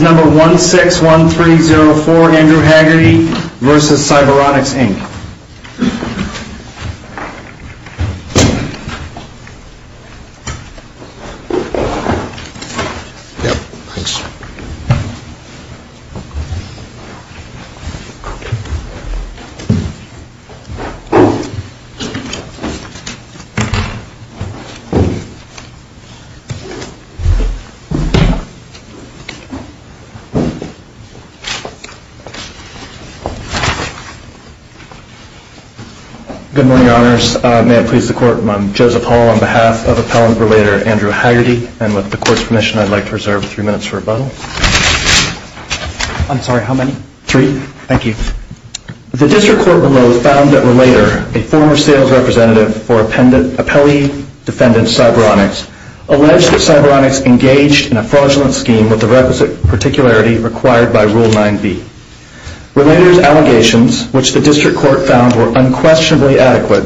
Number 161304 Andrew Hagerty v. Cyberonics, Inc. Good morning, Your Honors. May it please the Court, I'm Joseph Hall on behalf of Appellant Relator Andrew Hagerty, and with the Court's permission I'd like to reserve three minutes for rebuttal. I'm sorry, how many? Three. Thank you. The District Court below found that Relator, a former sales representative for Appellee Defendant Cyberonics, alleged that Cyberonics engaged in a fraudulent scheme with the requisite particularity required by Rule 9b. Relator's allegations, which the District Court found were unquestionably adequate,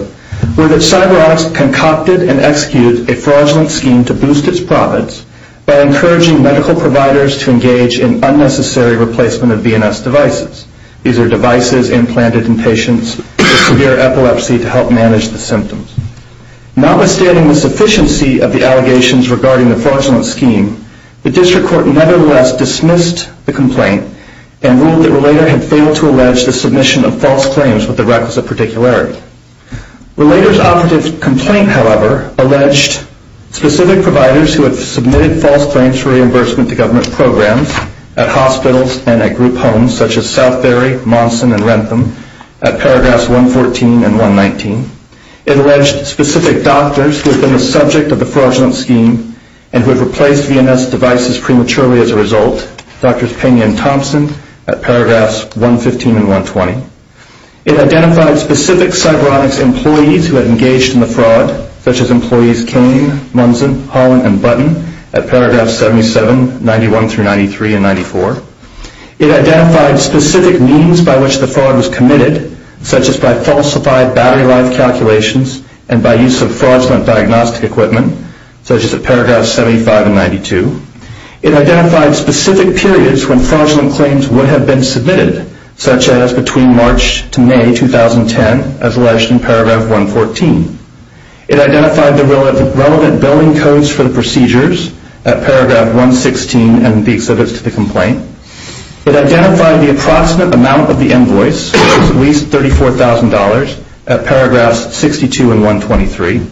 were that Cyberonics concocted and executed a fraudulent scheme to boost its profits by encouraging medical providers to engage in unnecessary replacement of BNS devices. These are devices implanted in patients with severe epilepsy to help manage the symptoms. Notwithstanding the sufficiency of the allegations regarding the fraudulent scheme, the District Court nevertheless dismissed the complaint and ruled that Relator had failed to allege the submission of false claims with the requisite particularity. Relator's operative complaint, however, alleged specific providers who had submitted false claims for reimbursement to government programs at hospitals and at group homes such as Southbury, Monson, and Rentham at paragraphs 114 and 119. It alleged specific doctors who had been the subject of the fraudulent scheme and who had replaced BNS devices prematurely as a result, Drs. Penney and Thompson at paragraphs 115 and 120. It identified specific Cyberonics employees who had engaged in the fraud, such as employees Kane, Monson, Holland, and Button at paragraphs 77, 91 through 93 and 94. It identified specific employees who had committed, such as by falsified battery life calculations and by use of fraudulent diagnostic equipment, such as at paragraphs 75 and 92. It identified specific periods when fraudulent claims would have been submitted, such as between March to May 2010, as alleged in paragraph 114. It identified the relevant billing codes for the procedures at paragraph 116 and the exhibits to the complaint. It identified the approximate amount of the invoice, which was at least $34,000, at paragraphs 62 and 123.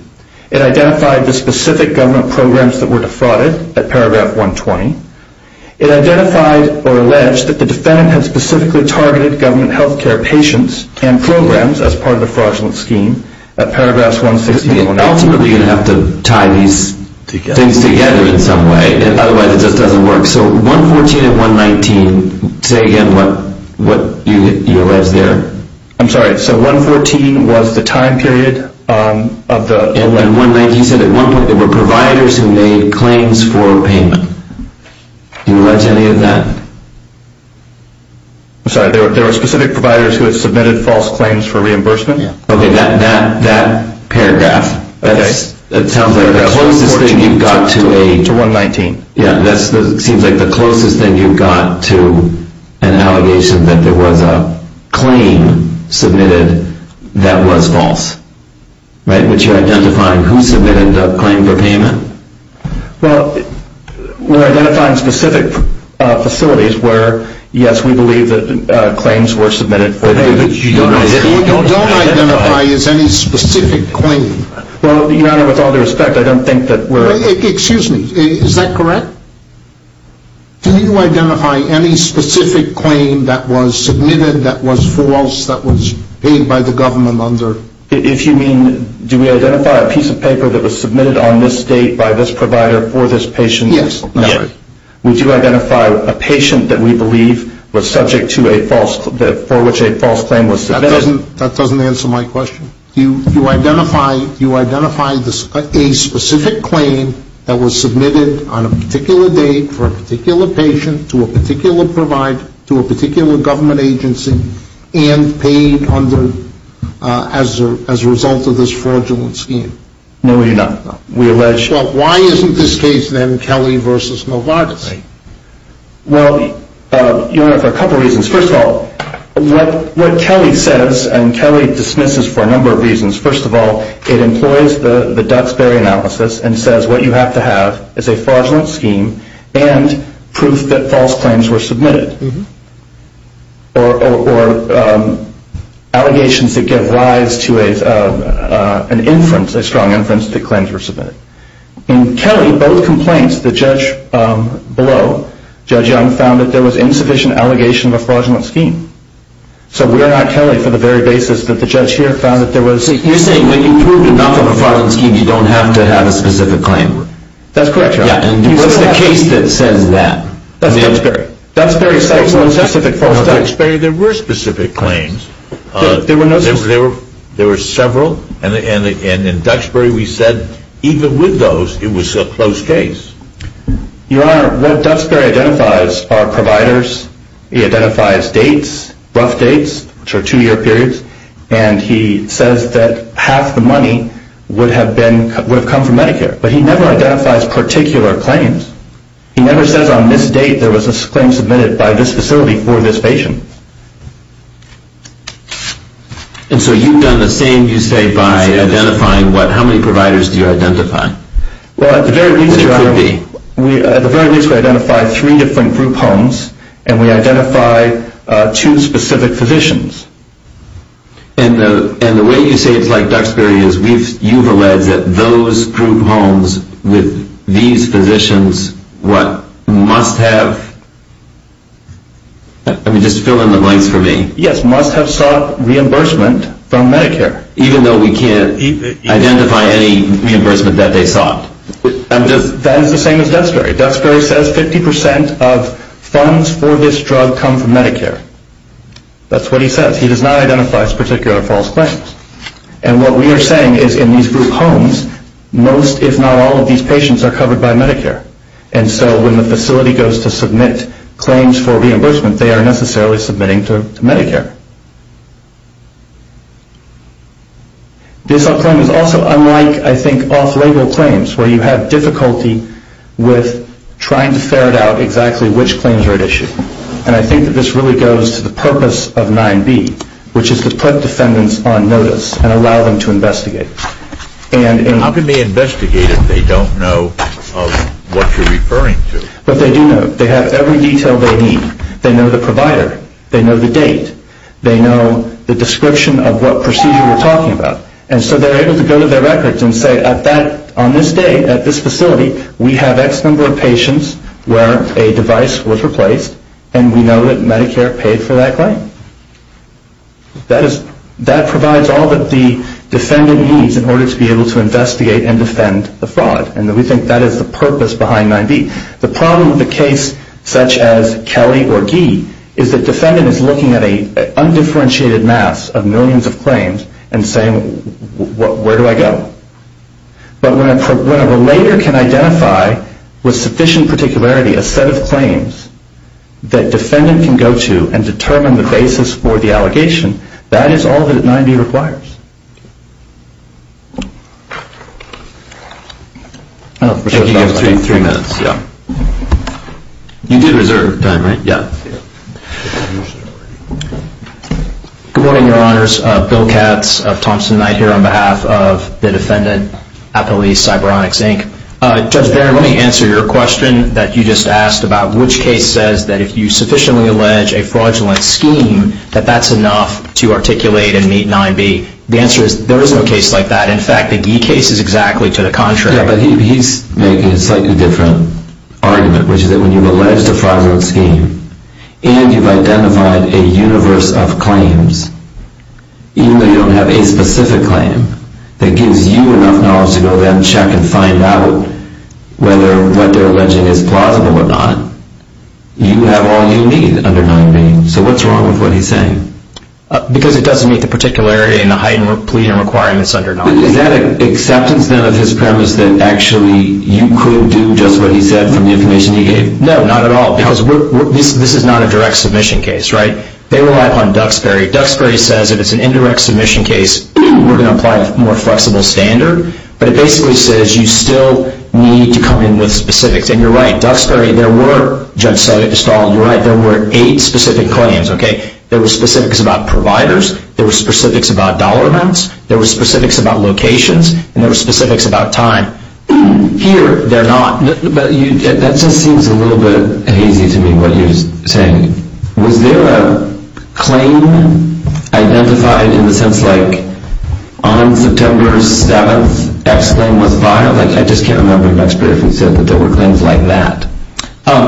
It identified the specific government programs that were defrauded at paragraph 120. It identified or alleged that the defendant had specifically targeted government health care patients and programs as part of the fraudulent scheme at paragraphs 160 and 180. Ultimately, you're going to have to tie these things together in some way. Otherwise, it just doesn't work. So 114 and 119, say again what you allege there. I'm sorry. So 114 was the time period of the... And 119 said at one point there were providers who made claims for payment. Do you allege any of that? I'm sorry. There were specific providers who had submitted false claims for reimbursement? Okay. That paragraph, that sounds like the closest thing you've got to a... Yes, it seems like the closest thing you've got to an allegation that there was a claim submitted that was false. Right? Would you identify who submitted a claim for payment? Well, we're identifying specific facilities where, yes, we believe that claims were submitted for payment. You don't identify as any specific claim. Well, Your Honor, with all due respect, I don't think that we're... Excuse me. Is that correct? Do you identify any specific claim that was submitted that was false that was paid by the government under... If you mean, do we identify a piece of paper that was submitted on this date by this provider for this patient? Yes. Would you identify a patient that we believe was subject to a false, for which a false claim was submitted? That doesn't answer my question. Do you identify a specific claim that was submitted on a particular date for a particular patient to a particular provider, to a particular government agency, and paid under, as a result of this fraudulent scheme? No, Your Honor. We allege... Well, why isn't this case then Kelly versus Novartis? Well, Your Honor, for a couple of reasons. First of all, what Kelly says, and Kelly dismisses for a number of reasons. First of all, it employs the Duxbury analysis and says what you have to have is a fraudulent scheme and proof that false claims were submitted, or allegations that give rise to an inference, a strong inference that claims were submitted. In Kelly, both complaints, the judge below, Judge Young, found that there was insufficient allegation of a fraudulent scheme. So we're not Kelly for the very basis that the judge here found that there was... You're saying that you proved enough of a fraudulent scheme, you don't have to have a specific claim. That's correct, Your Honor. Yeah, and what's the case that says that? Duxbury says there were specific false claims. In Duxbury, there were specific claims. There were no... There were several, and in Duxbury, we said even with those, it was a close case. Your Honor, what Duxbury identifies are providers, he identifies dates, rough dates, which are two-year periods, and he says that half the money would have come from Medicare. But he never identifies particular claims. He never says on this date there was a claim submitted by this facility for this patient. And so you've done the same, you say, by identifying what... How many providers do you identify? Well, at the very least, Your Honor... There could be. At the very least, we identify three different group homes, and we identify two specific physicians. And the way you say it's like Duxbury is you've alleged that those group homes with these patients must have... I mean, just fill in the blanks for me. Yes, must have sought reimbursement from Medicare. Even though we can't identify any reimbursement that they sought? That is the same as Duxbury. Duxbury says 50% of funds for this drug come from Medicare. That's what he says. He does not identify as particular false claims. And what we are saying is in these group homes, most, if not all, of these patients are covered by Medicare. And so when the facility goes to submit claims for reimbursement, they are necessarily submitting to Medicare. This claim is also unlike, I think, off-label claims where you have difficulty with trying to ferret out exactly which claims are at issue. And I think that this really goes to the purpose of 9B, which is to put defendants on notice and allow them to investigate. How can they investigate if they don't know what you're referring to? But they do know. They have every detail they need. They know the provider. They know the date. They know the description of what procedure we're talking about. And so they're able to go to their records and say, on this day, at this facility, we have X number of patients where a device was replaced, and we know that Medicare paid for that claim. That provides all that the defendant needs in order to be able to investigate and defend the fraud. And we think that is the purpose behind 9B. The problem with a case such as Kelly or Gee is that defendant is looking at an undifferentiated mass of millions of claims and saying, where do I go? But when a relator can identify with sufficient particularity a set of claims that defendant can go to and determine the basis for the allegation, that is all that 9B requires. Thank you. You have three minutes. Yeah. You did reserve time, right? Yeah. Good morning, Your Honors. Bill Katz of Thompson & Knight here on behalf of the defendant, Applebee's CyberOnyx, Inc. Judge Barron, let me answer your question that you just asked about which case says that if you sufficiently allege a fraudulent scheme, that that's enough to articulate and meet 9B. The answer is there is no case like that. In fact, the Gee case is exactly to the contrary. Yeah, but he's making a slightly different argument, which is that when you've alleged a fraudulent scheme and you've identified a universe of claims, even though you don't have a specific claim, that gives you enough knowledge to go then check and find out whether what you're alleging is plausible or not, you have all you need under 9B. So what's wrong with what he's saying? Because it doesn't meet the particularity and the heightened plea and requirements under 9B. Is that an acceptance then of his premise that actually you could do just what he said from the information he gave? No, not at all, because this is not a direct submission case, right? They rely upon Duxbury. Duxbury says if it's an indirect submission case, we're going to apply a more flexible standard, but it basically says you still need to come in with specifics. And you're right. Duxbury, there were, Judge Stahl, you're right, there were eight specific claims, okay? There were specifics about providers. There were specifics about dollar amounts. There were specifics about locations. And there were specifics about time. Here, they're not. That just seems a little bit hazy to me, what you're saying. Was there a claim identified in the sense like on September 7th, X claim was filed? Like, I just can't remember if Duxbury said that there were claims like that.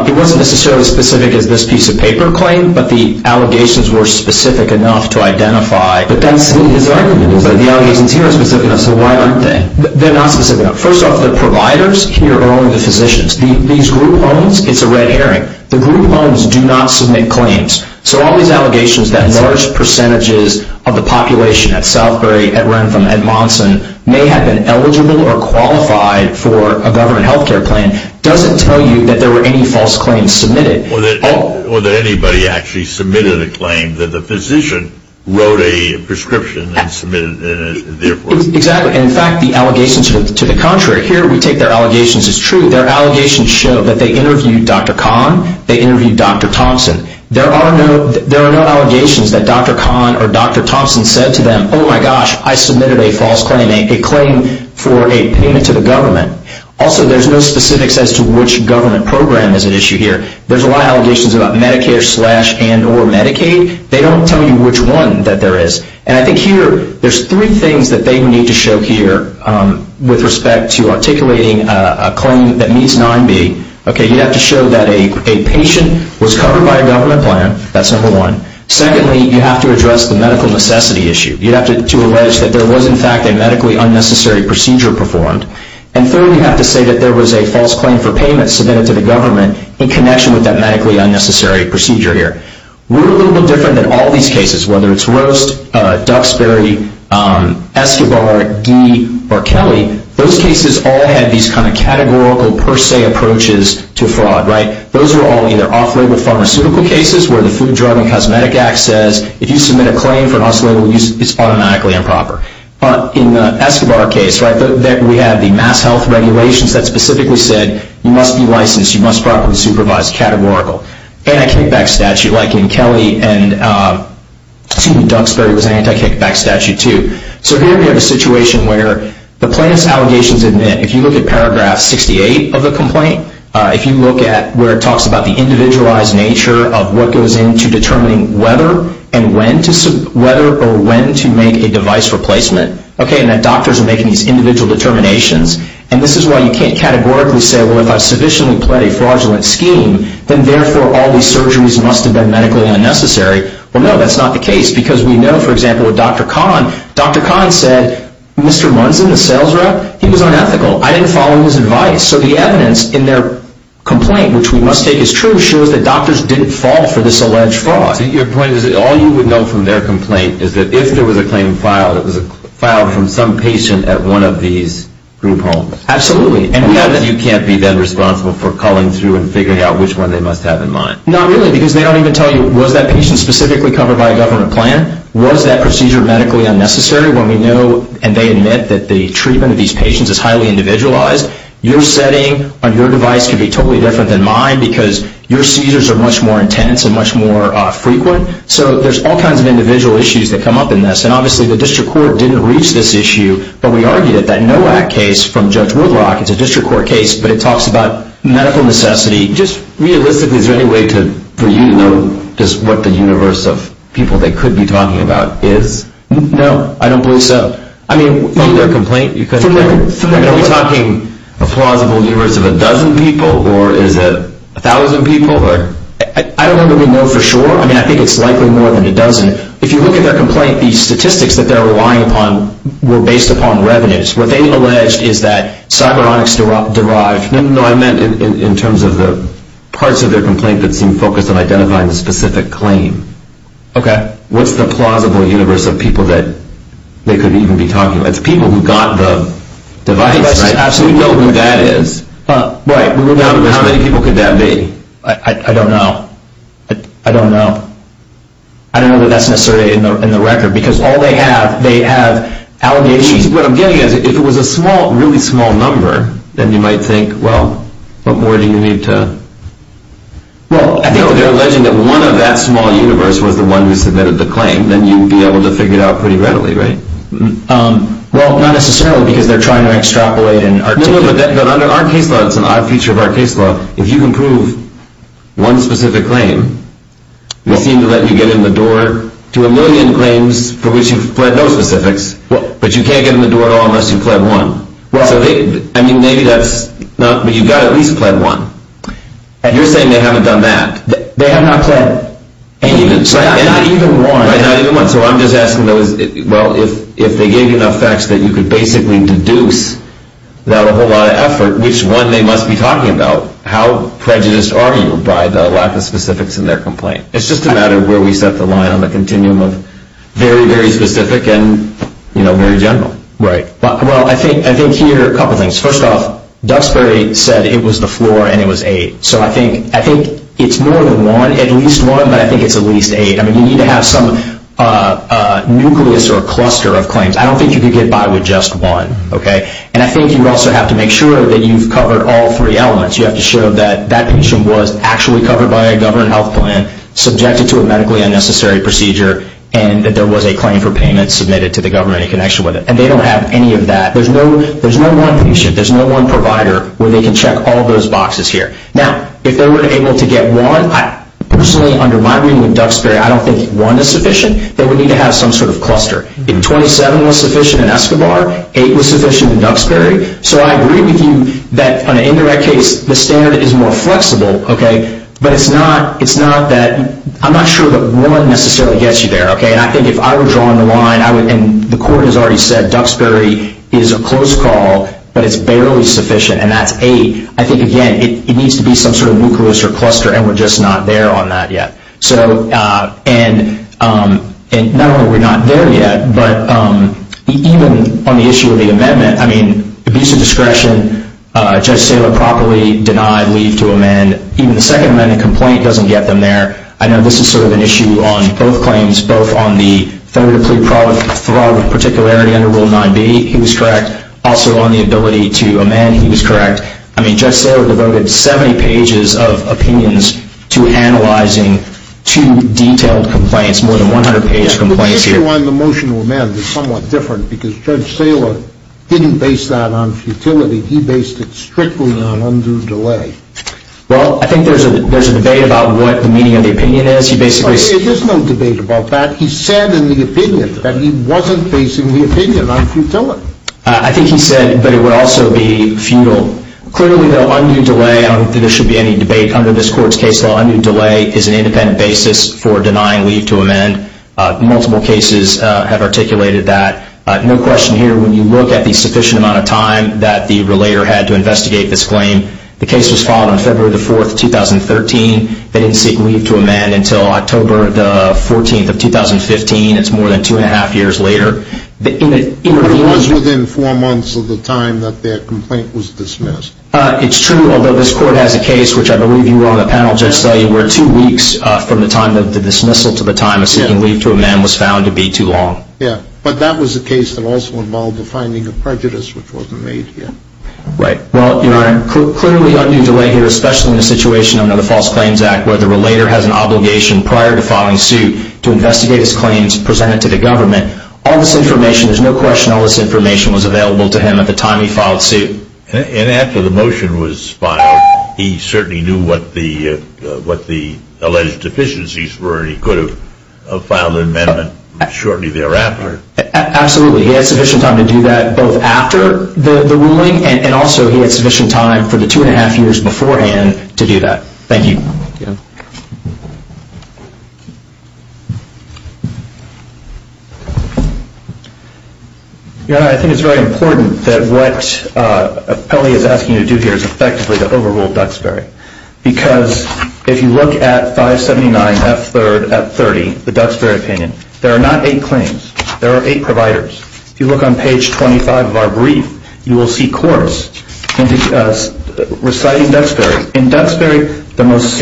It wasn't necessarily as specific as this piece of paper claim, but the allegations were specific enough to identify. But that's his argument, is that the allegations here are specific enough, so why aren't they? They're not specific enough. First off, the providers here are only the physicians. These group homes, it's a red herring. The group homes do not submit claims. So all these allegations that large percentages of the population at Southbury, at Rentham, at Monson, may have been eligible or qualified for a government health care plan, doesn't tell you that there were any false claims submitted. Or that anybody actually submitted a claim, that the physician wrote a prescription and submitted it. Exactly. In fact, the allegations to the contrary. Here, we take their allegations as true. Their allegations show that they interviewed Dr. Kahn, they interviewed Dr. Thompson. There are no allegations that Dr. Kahn or Dr. Thompson said to them, oh my gosh, I submitted a false claim, a claim for a payment to the government. Also, there's no specifics as to which government program is at issue here. There's a lot of allegations about Medicare slash and or Medicaid. They don't tell you which one that there is. And I think here, there's three things that they need to show here, with respect to articulating a claim that meets 9B. Okay, you have to show that a patient was covered by a government plan. That's number one. Secondly, you have to address the medical necessity issue. You have to allege that there was, in fact, a medically unnecessary procedure performed. And third, you have to say that there was a false claim for payment submitted to the government in connection with that medically unnecessary procedure here. We're a little bit different than all these cases, whether it's Roast, Duxbury, Escobar, Guy, or Kelly. Those cases all had these kind of categorical per se approaches to fraud, right? Those are all either off-label pharmaceutical cases where the Food, Drug, and Cosmetic Act says if you submit a claim for an off-label use, it's automatically improper. In the Escobar case, right, we have the Mass Health Regulations that specifically said you must be licensed, you must properly supervise, categorical. Anti-kickback statute, like in Kelly and Duxbury was anti-kickback statute too. So here we have a situation where the plaintiff's allegations admit, if you look at paragraph 68 of the complaint, if you look at where it talks about the individualized nature of what goes into determining whether or when to make a device replacement, okay, and that doctors are making these individual determinations, and this is why you can't categorically say, well, if I've sufficiently played a fraudulent scheme, then therefore all these surgeries must have been medically unnecessary. Well, no, that's not the case because we know, for example, with Dr. Kahn, Dr. Kahn said, Mr. Munson, the sales rep, he was unethical. I didn't follow his advice. So the evidence in their complaint, which we must take as true, shows that doctors didn't fall for this alleged fraud. So your point is that all you would know from their complaint is that if there was a claim filed, it was filed from some patient at one of these group homes. Absolutely. And you can't be then responsible for calling through and figuring out which one they must have in mind. Not really, because they don't even tell you, was that patient specifically covered by a government plan? Was that procedure medically unnecessary? When we know, and they admit, that the treatment of these patients is highly individualized, your setting on your device could be totally different than mine because your seizures are much more intense and much more frequent. So there's all kinds of individual issues that come up in this. And obviously the district court didn't reach this issue, but we argued that that NOAC case from Judge Woodrock, it's a district court case, but it talks about medical necessity. Just realistically, is there any way for you to know just what the universe of people they could be talking about is? No, I don't believe so. From their complaint? Are we talking a plausible universe of a dozen people, or is it a thousand people? I don't know that we know for sure. I mean, I think it's likely more than a dozen. If you look at their complaint, the statistics that they're relying upon were based upon revenues. What they've alleged is that cyberonics derived... No, I meant in terms of the parts of their complaint that seem focused on identifying the specific claim. Okay. What's the plausible universe of people that they could even be talking about? It's people who got the device, right? Absolutely. We know who that is. Right. How many people could that be? I don't know. I don't know. I don't know that that's necessarily in the record, because all they have, they have allegations... What I'm getting at is if it was a small, really small number, then you might think, well, what more do you need to... Well, I think if they're alleging that one of that small universe was the one who submitted the claim, then you'd be able to figure it out pretty readily, right? Well, not necessarily, because they're trying to extrapolate and articulate... No, no, but under our case law, it's an odd feature of our case law. If you can prove one specific claim, they seem to let you get in the door to a million claims for which you've pled no specifics, but you can't get in the door unless you've pled one. I mean, maybe that's... but you've got to at least pled one. You're saying they haven't done that? They have not pled even one. Right, not even one. So I'm just asking, well, if they gave you enough facts that you could basically deduce without a whole lot of effort, which one they must be talking about, how prejudiced are you by the lack of specifics in their complaint? It's just a matter of where we set the line on the continuum of very, very specific and very general. Right. Well, I think here, a couple things. First off, Duxbury said it was the floor and it was eight. So I think it's more than one, at least one, but I think it's at least eight. I mean, you need to have some nucleus or cluster of claims. I don't think you could get by with just one, okay? And I think you also have to make sure that you've covered all three elements. You have to show that that patient was actually covered by a government health plan, subjected to a medically unnecessary procedure, and that there was a claim for payment submitted to the government in connection with it. And they don't have any of that. There's no one patient. There's no one provider where they can check all those boxes here. Now, if they were able to get one, personally, under my reading with Duxbury, I don't think one is sufficient. They would need to have some sort of cluster. 27 was sufficient in Escobar. Eight was sufficient in Duxbury. So I agree with you that on an indirect case, the standard is more flexible, okay? But it's not that I'm not sure that one necessarily gets you there, okay? And I think if I were drawing the line, and the court has already said Duxbury is a close call, but it's barely sufficient, and that's eight, I think, again, it needs to be some sort of nucleus or cluster, and we're just not there on that yet. And not only are we not there yet, but even on the issue of the amendment, I mean, abuse of discretion, Judge Saylor properly denied leave to amend. Even the Second Amendment complaint doesn't get them there. I know this is sort of an issue on both claims, both on the federal plea fraud particularity under Rule 9b, he was correct, also on the ability to amend, he was correct. I mean, Judge Saylor devoted 70 pages of opinions to analyzing two detailed complaints, more than 100-page complaints here. But the issue on the motion to amend is somewhat different because Judge Saylor didn't base that on futility. He based it strictly on undue delay. Well, I think there's a debate about what the meaning of the opinion is. There's no debate about that. He said in the opinion that he wasn't basing the opinion on futility. I think he said, but it would also be futile. Clearly, though, undue delay, I don't think there should be any debate under this court's case law, undue delay is an independent basis for denying leave to amend. Multiple cases have articulated that. No question here, when you look at the sufficient amount of time that the relator had to investigate this claim, the case was filed on February 4, 2013. They didn't seek leave to amend until October 14, 2015. It's more than two and a half years later. It was within four months of the time that their complaint was dismissed. It's true, although this court has a case, which I believe you were on the panel, Judge Saylor, where two weeks from the dismissal to the time of seeking leave to amend was found to be too long. Yeah, but that was a case that also involved the finding of prejudice, which wasn't made here. Right. Well, Your Honor, clearly undue delay here, especially in a situation under the False Claims Act, where the relator has an obligation prior to filing suit to investigate his claims presented to the government. All this information, there's no question all this information was available to him at the time he filed suit. And after the motion was filed, he certainly knew what the alleged deficiencies were, and he could have filed an amendment shortly thereafter. Absolutely. He had sufficient time to do that both after the ruling, and also he had sufficient time for the two and a half years beforehand to do that. Thank you. Thank you. Your Honor, I think it's very important that what Pelley is asking you to do here is effectively to overrule Duxbury. Because if you look at 579F3 at 30, the Duxbury opinion, there are not eight claims. There are eight providers. If you look on page 25 of our brief, you will see corpse reciting Duxbury. In Duxbury, the most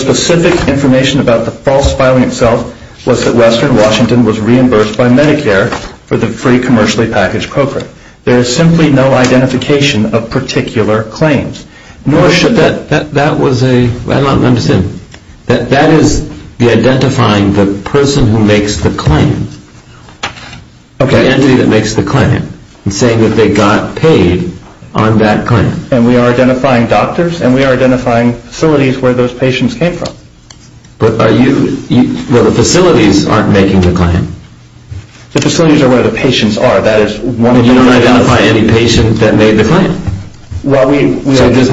specific information about the false filing itself was that Western Washington was reimbursed by Medicare for the free commercially packaged cochran. There is simply no identification of particular claims. I don't understand. That is the identifying the person who makes the claim, the entity that makes the claim, and saying that they got paid on that claim. And we are identifying doctors, and we are identifying facilities where those patients came from. But the facilities aren't making the claim. The facilities are where the patients are. You don't identify any patient that made the claim. So there's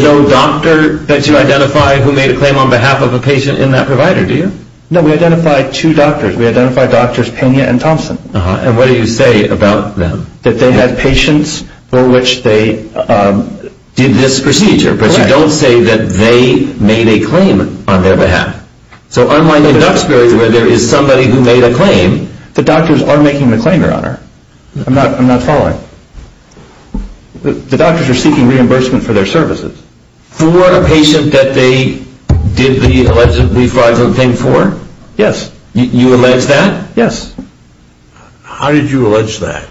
no doctor that you identify who made a claim on behalf of a patient in that provider, do you? No, we identify two doctors. We identify Drs. Pena and Thompson. And what do you say about them? That they had patients for which they did this procedure. But you don't say that they made a claim on their behalf. So unlike in Duxbury where there is somebody who made a claim. The doctors are making the claim, Your Honor. I'm not following. The doctors are seeking reimbursement for their services. For a patient that they did the allegedly fraudulent thing for? Yes. You allege that? Yes. How did you allege that?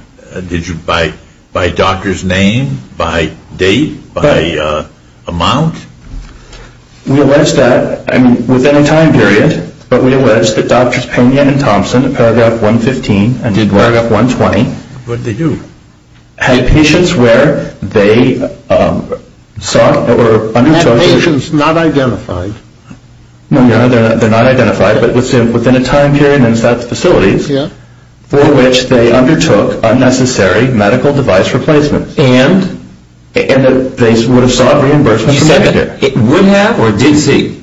By doctor's name? By date? By amount? We allege that within a time period. But we allege that Drs. Pena and Thompson in Paragraph 115 and in Paragraph 120 What did they do? Had patients where they sought or undertook Had patients not identified? No, Your Honor, they're not identified. But within a time period and in such facilities for which they undertook unnecessary medical device replacements. And? And that they would have sought reimbursement from Medicare. You said that it would have or did seek?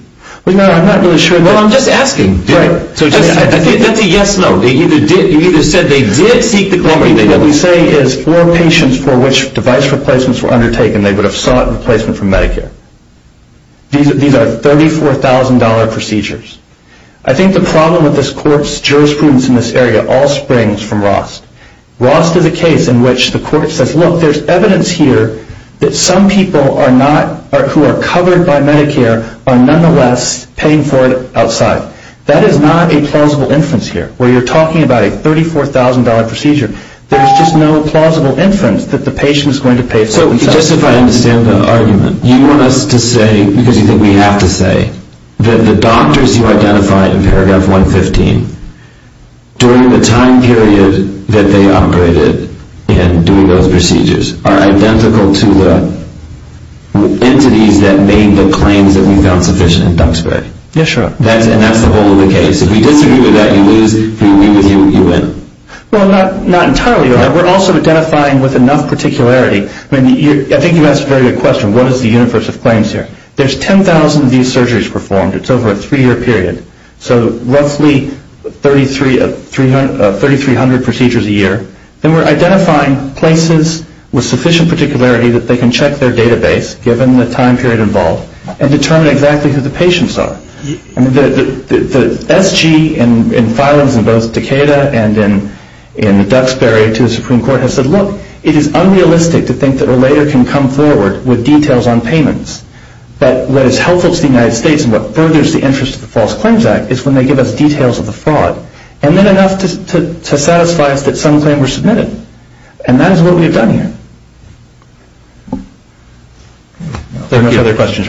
I'm not really sure. Well, I'm just asking. Right. That's a yes-no. You either said they did seek the comorbidity. What we say is for patients for which device replacements were undertaken they would have sought replacement from Medicare. These are $34,000 procedures. I think the problem with this court's jurisprudence in this area all springs from Rost. Rost is a case in which the court says, look, there's evidence here that some people who are covered by Medicare are nonetheless paying for it outside. That is not a plausible inference here where you're talking about a $34,000 procedure. There's just no plausible inference that the patient is going to pay for it. So just if I understand the argument, you want us to say because you think we have to say that the doctors you identified in paragraph 115 during the time period that they operated in doing those procedures are identical to the entities that made the claims that we found sufficient in Duxbury. Yes, sir. And that's the whole of the case. If you disagree with that, you lose. If you agree with it, you win. Well, not entirely. We're also identifying with enough particularity. I think you asked a very good question. What is the universe of claims here? There's 10,000 of these surgeries performed. It's over a three-year period. So roughly 3,300 procedures a year. Then we're identifying places with sufficient particularity that they can check their database given the time period involved and determine exactly who the patients are. The SG in filings in both Decatur and in Duxbury to the Supreme Court has said, look, it is unrealistic to think that a lawyer can come forward with details on payments. But what is helpful to the United States and what furthers the interest of the False Claims Act is when they give us details of the fraud. And then enough to satisfy us that some claims were submitted. And that is what we have done here. If there are no other questions, we're on.